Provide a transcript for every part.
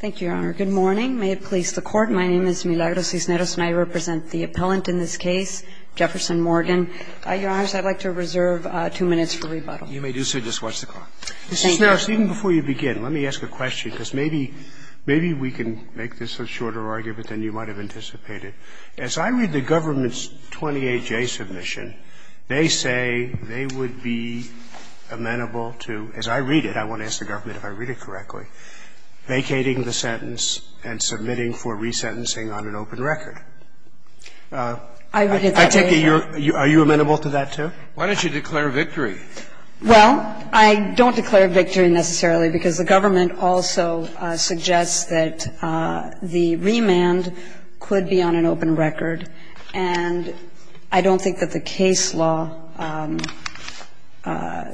Thank you, Your Honor. Good morning. May it please the Court, my name is Milagros Cisneros and I represent the appellant in this case, Jefferson Morgan. Your Honors, I'd like to reserve two minutes for rebuttal. You may do so. Just watch the clock. Thank you. Ms. Cisneros, even before you begin, let me ask a question, because maybe we can make this a shorter argument than you might have anticipated. As I read the government's 28J submission, they say they would be amenable to, as I read it, I want to ask the government if I read it correctly, vacating the sentence and submitting for resentencing on an open record. I take it you're – are you amenable to that, too? Why don't you declare victory? Well, I don't declare victory necessarily because the government also suggests that the remand could be on an open record, and I don't think that the case law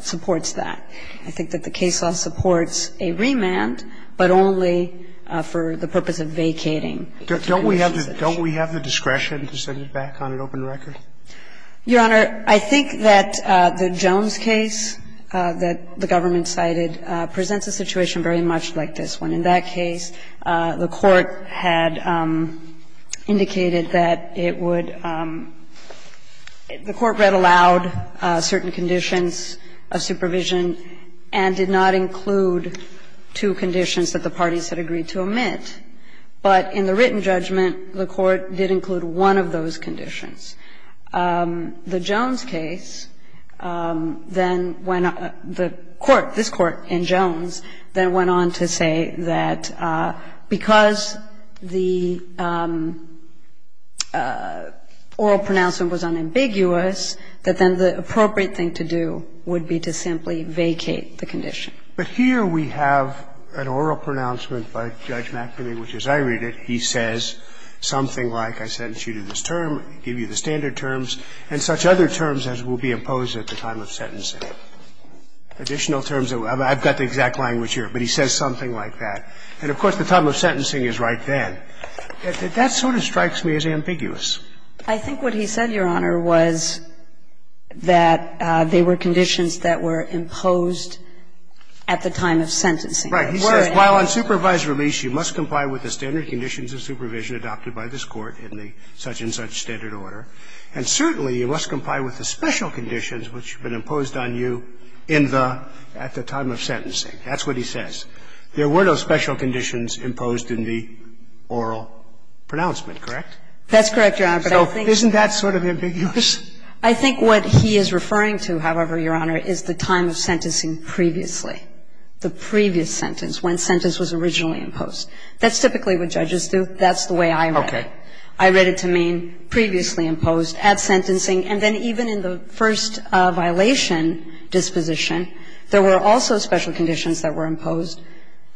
supports that. I think that the case law supports a remand, but only for the purpose of vacating. Don't we have the – don't we have the discretion to send it back on an open record? Your Honor, I think that the Jones case that the government cited presents a situation very much like this one. In that case, the Court had indicated that it would – the Court read aloud certain conditions of supervision and did not include two conditions that the parties had agreed to omit, but in the written judgment, the Court did include one of those conditions. The Jones case then went – the Court, this Court in Jones, then went on to say that because the oral pronouncement was unambiguous, that then the appropriate thing to do would be to simply vacate the condition. But here we have an oral pronouncement by Judge McNamee, which, as I read it, he says something like, I sentence you to this term, give you the standard terms, and such other terms as will be imposed at the time of sentencing. Additional terms – I've got the exact language here, but he says something like that. And, of course, the term of sentencing is right then. That sort of strikes me as ambiguous. I think what he said, Your Honor, was that they were conditions that were imposed at the time of sentencing. He says, while on supervisory lease, you must comply with the standard conditions of supervision adopted by this Court in the such-and-such standard order, and certainly you must comply with the special conditions which have been imposed on you in the time of sentencing. That's what he says. There were no special conditions imposed in the oral pronouncement, correct? That's correct, Your Honor. Isn't that sort of ambiguous? I think what he is referring to, however, Your Honor, is the time of sentencing previously, the previous sentence, when sentence was originally imposed. That's typically what judges do. That's the way I read it. I read it to mean previously imposed at sentencing, and then even in the first violation disposition, there were also special conditions that were imposed.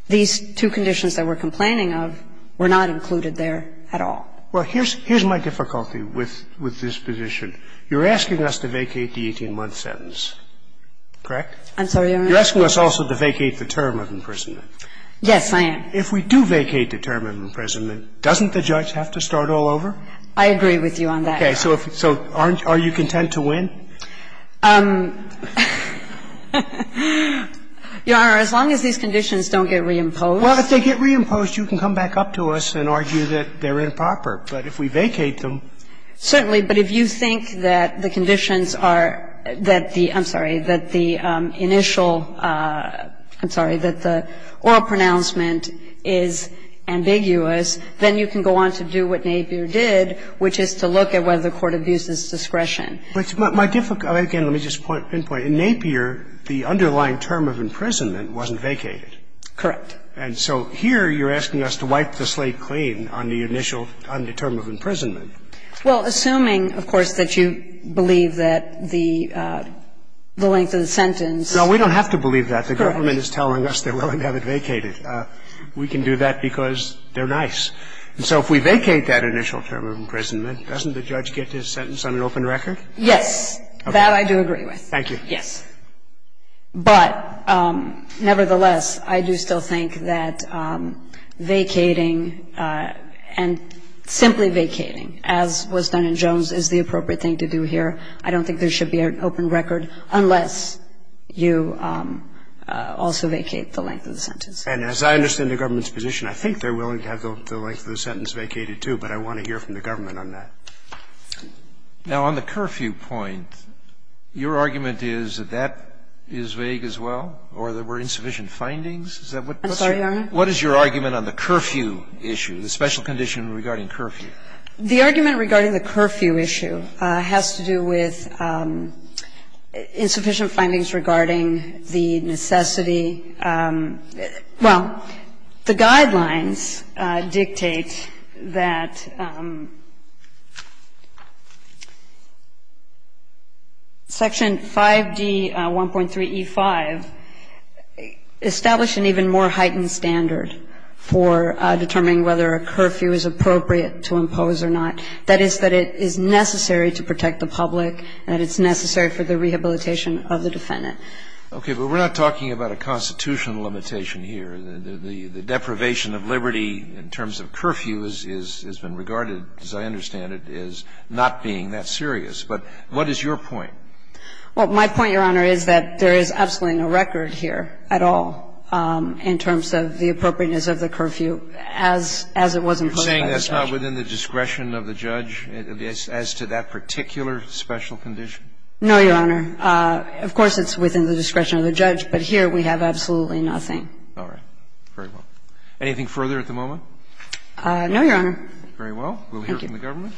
These two conditions that we're complaining of were not included there at all. Well, here's my difficulty with this position. You're asking us to vacate the 18-month sentence, correct? I'm sorry, Your Honor? You're asking us also to vacate the term of imprisonment. Yes, I am. If we do vacate the term of imprisonment, doesn't the judge have to start all over? I agree with you on that, Your Honor. So are you content to win? Your Honor, as long as these conditions don't get reimposed. Well, if they get reimposed, you can come back up to us and argue that they're improper. But if we vacate them. Certainly. But if you think that the conditions are that the – I'm sorry – that the initial – I'm sorry – that the oral pronouncement is ambiguous, then you can go on to do what Nabier did, which is to look at whether the court abuses discretion. But my difficulty – again, let me just pinpoint. In Nabier, the underlying term of imprisonment wasn't vacated. Correct. And so here you're asking us to wipe the slate clean on the initial term of imprisonment. Well, assuming, of course, that you believe that the length of the sentence is correct. No, we don't have to believe that. The government is telling us they're willing to have it vacated. We can do that because they're nice. And so if we vacate that initial term of imprisonment, doesn't the judge get his sentence on an open record? Yes. That I do agree with. Thank you. Yes. But nevertheless, I do still think that vacating and simply vacating, as was done in Jones, is the appropriate thing to do here. I don't think there should be an open record unless you also vacate the length of the sentence. And as I understand the government's position, I think they're willing to have the government on that. Now, on the curfew point, your argument is that that is vague as well or there were insufficient findings? I'm sorry, Your Honor? What is your argument on the curfew issue, the special condition regarding curfew? The argument regarding the curfew issue has to do with insufficient findings regarding the necessity – well, the guidelines dictate that Section 5D.1.3.E.5 established an even more heightened standard for determining whether a curfew is appropriate to impose or not. That is, that it is necessary to protect the public and that it's necessary for the rehabilitation of the defendant. Okay. But we're not talking about a constitutional limitation here. The deprivation of liberty in terms of curfew has been regarded, as I understand it, as not being that serious. But what is your point? Well, my point, Your Honor, is that there is absolutely no record here at all in terms of the appropriateness of the curfew as it was imposed by the judge. You're saying that's not within the discretion of the judge as to that particular special condition? No, Your Honor. Of course, it's within the discretion of the judge. But here we have absolutely nothing. All right. Very well. Anything further at the moment? No, Your Honor. Very well. Thank you. We'll hear from the government.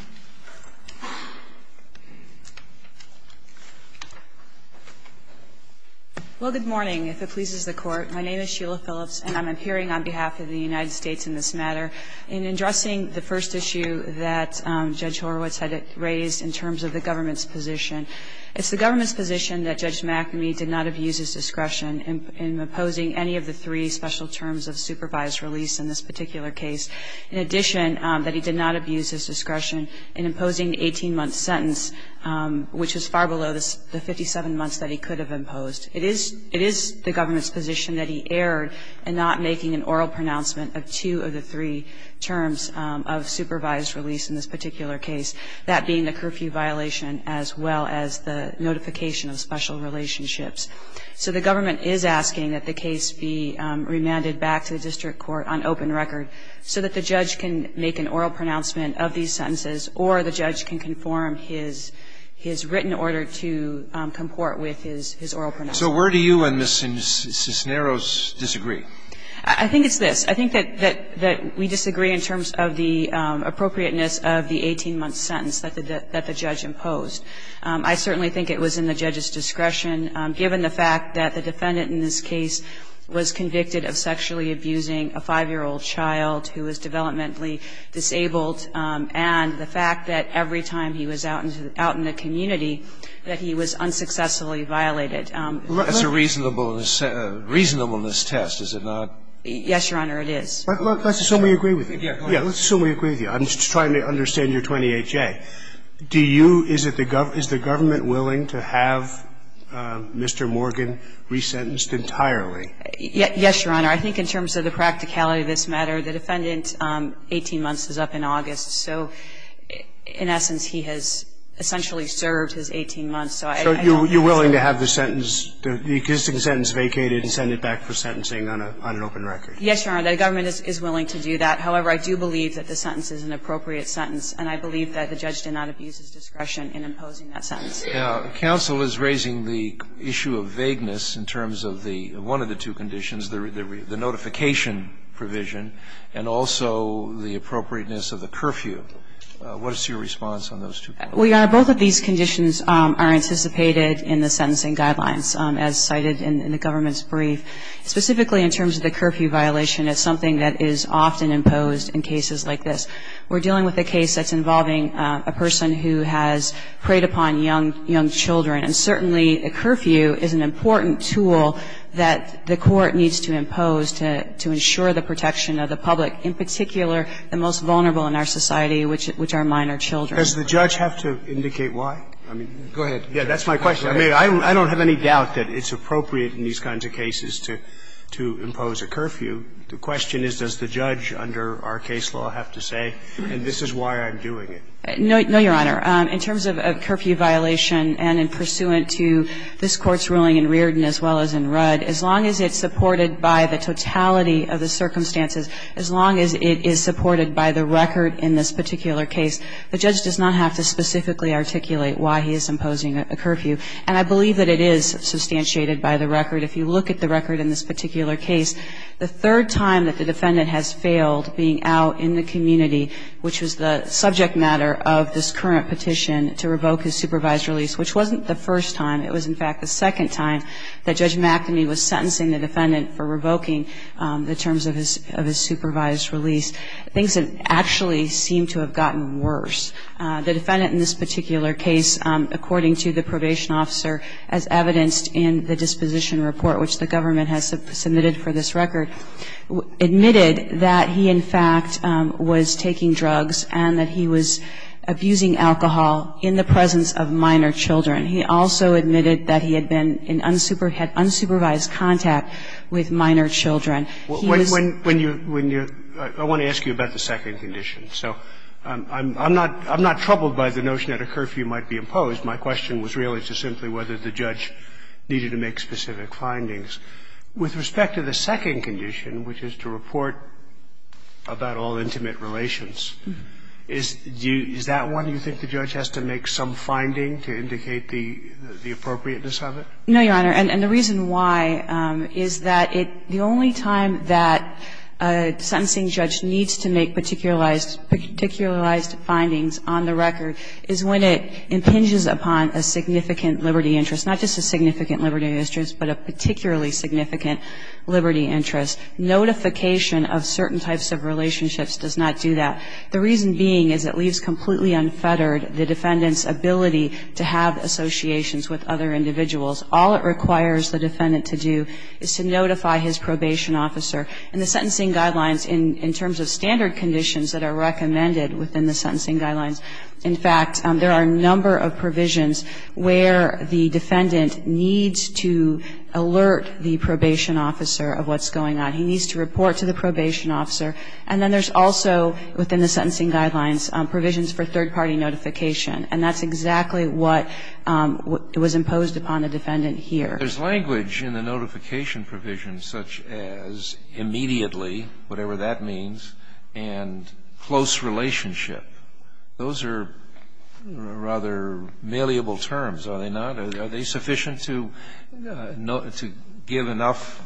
Well, good morning, if it pleases the Court. My name is Sheila Phillips, and I'm appearing on behalf of the United States in this matter. In addressing the first issue that Judge Horowitz had raised in terms of the government's position, it's the government's position that Judge McAmey did not abuse his discretion in imposing any of the three special terms of supervised release in this particular case, in addition that he did not abuse his discretion in imposing the 18-month sentence, which is far below the 57 months that he could have imposed. It is the government's position that he erred in not making an oral pronouncement of two of the three terms of supervised release in this particular case, that being the curfew violation as well as the notification of special relationships. So the government is asking that the case be remanded back to the district court on open record so that the judge can make an oral pronouncement of these sentences or the judge can conform his written order to comport with his oral pronouncement. So where do you and Ms. Cisneros disagree? I think it's this. I think that we disagree in terms of the appropriateness of the 18-month sentence that the judge imposed. I certainly think it was in the judge's discretion, given the fact that the defendant in this case was convicted of sexually abusing a 5-year-old child who was developmentally disabled, and the fact that every time he was out in the community that he was unsuccessfully violated. That's a reasonableness test, is it not? Yes, Your Honor, it is. Let's assume we agree with you. Yes. Let's assume we agree with you. I'm just trying to understand your 28-J. Do you – is it the – is the government willing to have Mr. Morgan resentenced entirely? Yes, Your Honor. I think in terms of the practicality of this matter, the defendant's 18 months is up in August. So in essence, he has essentially served his 18 months. So you're willing to have the sentence – the existing sentence vacated and send it back for sentencing on an open record? Yes, Your Honor. The government is willing to do that. However, I do believe that the sentence is an appropriate sentence, and I believe that the judge did not abuse his discretion in imposing that sentence. Counsel is raising the issue of vagueness in terms of the – one of the two conditions, the notification provision, and also the appropriateness of the curfew. What is your response on those two points? Well, Your Honor, both of these conditions are anticipated in the sentencing guidelines, as cited in the government's brief. Specifically in terms of the curfew violation, it's something that is often imposed in cases like this. We're dealing with a case that's involving a person who has preyed upon young children, and certainly a curfew is an important tool that the court needs to impose to ensure the protection of the public, in particular the most vulnerable in our society, which are minor children. Does the judge have to indicate why? I mean, go ahead. Yes, that's my question. I mean, I don't have any doubt that it's appropriate in these kinds of cases to impose a curfew. The question is, does the judge under our case law have to say, and this is why I'm doing it? No, Your Honor. In terms of a curfew violation, and in pursuant to this Court's ruling in Reardon as well as in Rudd, as long as it's supported by the totality of the circumstances, as long as it is supported by the record in this particular case, the judge does not have to specifically articulate why he is imposing a curfew. And I believe that it is substantiated by the record. If you look at the record in this particular case, the third time that the defendant has failed being out in the community, which was the subject matter of this current petition to revoke his supervised release, which wasn't the first time. It was, in fact, the second time that Judge McNamee was sentencing the defendant for revoking the terms of his supervised release. Things actually seem to have gotten worse. The defendant in this particular case, according to the probation officer as evidenced in the disposition report, which the government has submitted for this record, admitted that he, in fact, was taking drugs and that he was abusing alcohol in the presence of minor children. He also admitted that he had been in unsupervised contact with minor children. He was ---- I want to ask you about the second condition. So I'm not troubled by the notion that a curfew might be imposed. My question was really just simply whether the judge needed to make specific findings. With respect to the second condition, which is to report about all intimate relations, is that one you think the judge has to make some finding to indicate the appropriateness of it? No, Your Honor. And the reason why is that the only time that a sentencing judge needs to make particularized findings on the record is when it impinges upon a significant liberty interest, not just a significant liberty interest, but a particularly significant liberty interest. Notification of certain types of relationships does not do that. The reason being is it leaves completely unfettered the defendant's ability to have associations with other individuals. All it requires the defendant to do is to notify his probation officer. In the sentencing guidelines, in terms of standard conditions that are recommended within the sentencing guidelines, in fact, there are a number of provisions where the defendant needs to alert the probation officer of what's going on. He needs to report to the probation officer. And then there's also, within the sentencing guidelines, provisions for third-party notification. And that's exactly what was imposed upon the defendant here. There's language in the notification provisions such as immediately, whatever that means, and close relationship. Those are rather malleable terms, are they not? Are they sufficient to give enough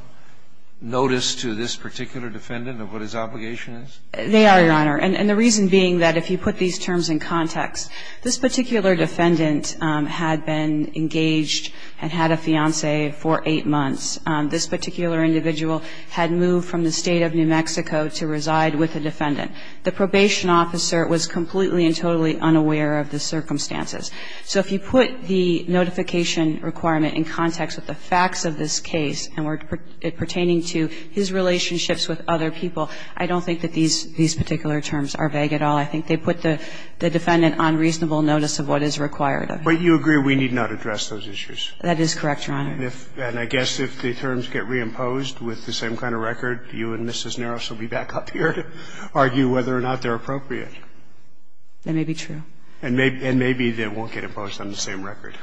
notice to this particular defendant of what his obligation is? They are, Your Honor. And the reason being that if you put these terms in context, this particular defendant had been engaged and had a fiancé for eight months. This particular individual had moved from the State of New Mexico to reside with a defendant. The probation officer was completely and totally unaware of the circumstances. So if you put the notification requirement in context with the facts of this case and were pertaining to his relationships with other people, I don't think that these particular terms are vague at all. I think they put the defendant on reasonable notice of what is required of him. But you agree we need not address those issues? That is correct, Your Honor. And I guess if the terms get reimposed with the same kind of record, you and Mrs. Naros will be back up here to argue whether or not they're appropriate. That may be true. And maybe they won't get imposed on the same record.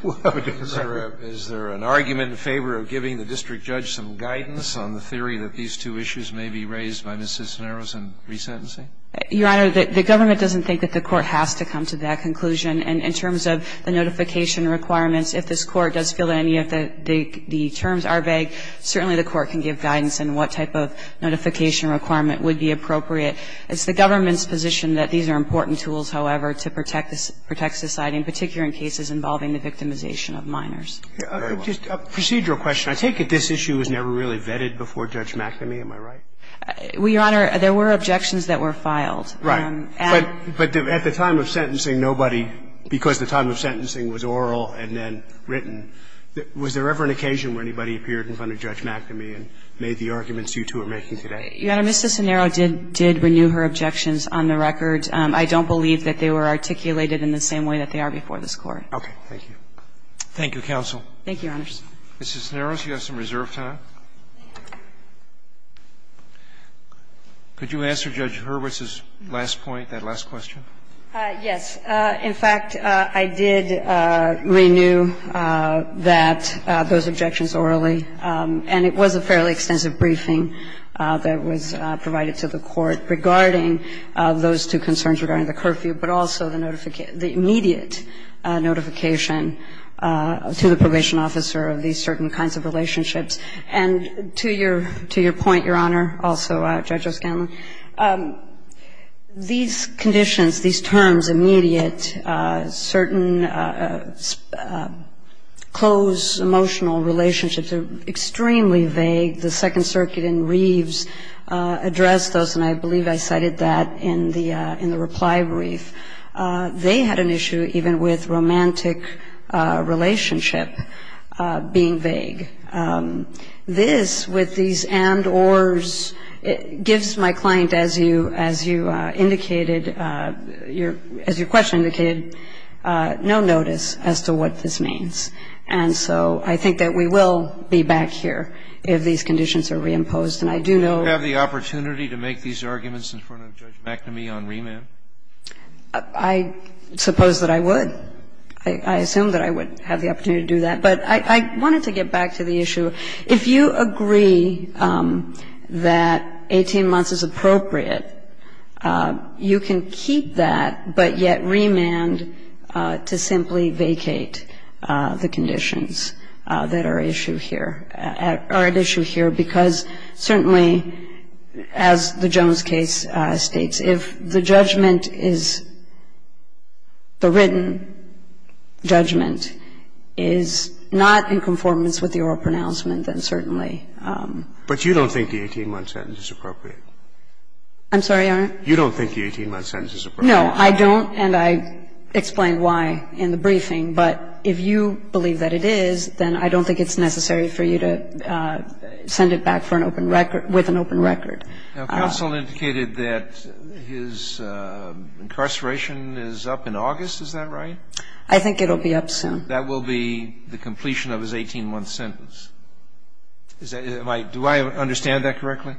Is there an argument in favor of giving the district judge some guidance on the theory that these two issues may be raised by Mrs. Naros in resentencing? Your Honor, the government doesn't think that the court has to come to that conclusion. And in terms of the notification requirements, if this Court does feel that any of the terms are vague, certainly the Court can give guidance in what type of notification requirement would be appropriate. It's the government's position that these are important tools, however, to protect society, in particular in cases involving the victimization of minors. Very well. Just a procedural question. I take it this issue was never really vetted before Judge McNamee. Am I right? Well, Your Honor, there were objections that were filed. Right. But at the time of sentencing, nobody, because the time of sentencing was oral and then written, was there ever an occasion where anybody appeared in front of Judge McNamee and made the arguments you two are making today? Your Honor, Mrs. Naros did renew her objections on the record. I don't believe that they were articulated in the same way that they are before Thank you. Thank you, counsel. Thank you, Your Honors. Mrs. Naros, you have some reserve time. Could you answer Judge Hurwitz's last point, that last question? Yes. In fact, I did renew that, those objections orally. And it was a fairly extensive briefing that was provided to the Court regarding those two concerns regarding the curfew, but also the immediate notification to the probation officer of these certain kinds of relationships. And to your point, Your Honor, also, Judge O'Scanlan, these conditions, these terms, immediate, certain close emotional relationships are extremely vague. The Second Circuit in Reeves addressed those, and I believe I cited that in the reply brief. They had an issue even with romantic relationship being vague. This, with these and, ors, gives my client, as you indicated, as your question indicated, no notice as to what this means. And so I think that we will be back here if these conditions are reimposed. And I do know that the opportunity to make these arguments in front of Judge McNamee on remand? I suppose that I would. I assume that I would have the opportunity to do that. But I wanted to get back to the issue. If you agree that 18 months is appropriate, you can keep that, but yet remand to simply vacate the conditions that are at issue here. And if you don't think that the 18-month sentence is appropriate, then I'm sorry, Your Honor? You don't think the 18-month sentence is appropriate? No, I don't, and I explained why in the briefing. But if you believe that it is, then I don't think it's necessary for you to vacate If you believe that it is, then I don't think it's necessary for you to vacate If you believe that it is, then I don't think it's necessary for you to send it back for an open record with an open record. Now, counsel indicated that his incarceration is up in August. Is that right? I think it will be up soon. That will be the completion of his 18-month sentence. Do I understand that correctly?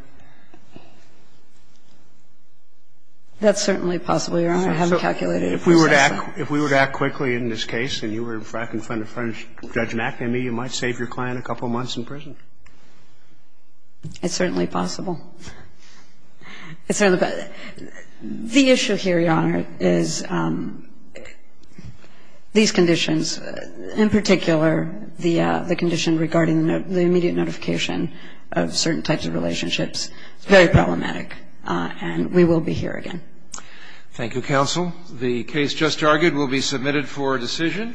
That's certainly possible, Your Honor. I haven't calculated it. So if we were to act quickly in this case and you were in front of Judge McNamee, you might save your client a couple months in prison? It's certainly possible. It's certainly possible. The issue here, Your Honor, is these conditions, in particular the condition regarding the immediate notification of certain types of relationships, very problematic. And we will be here again. Thank you, counsel. The case just argued will be submitted for decision.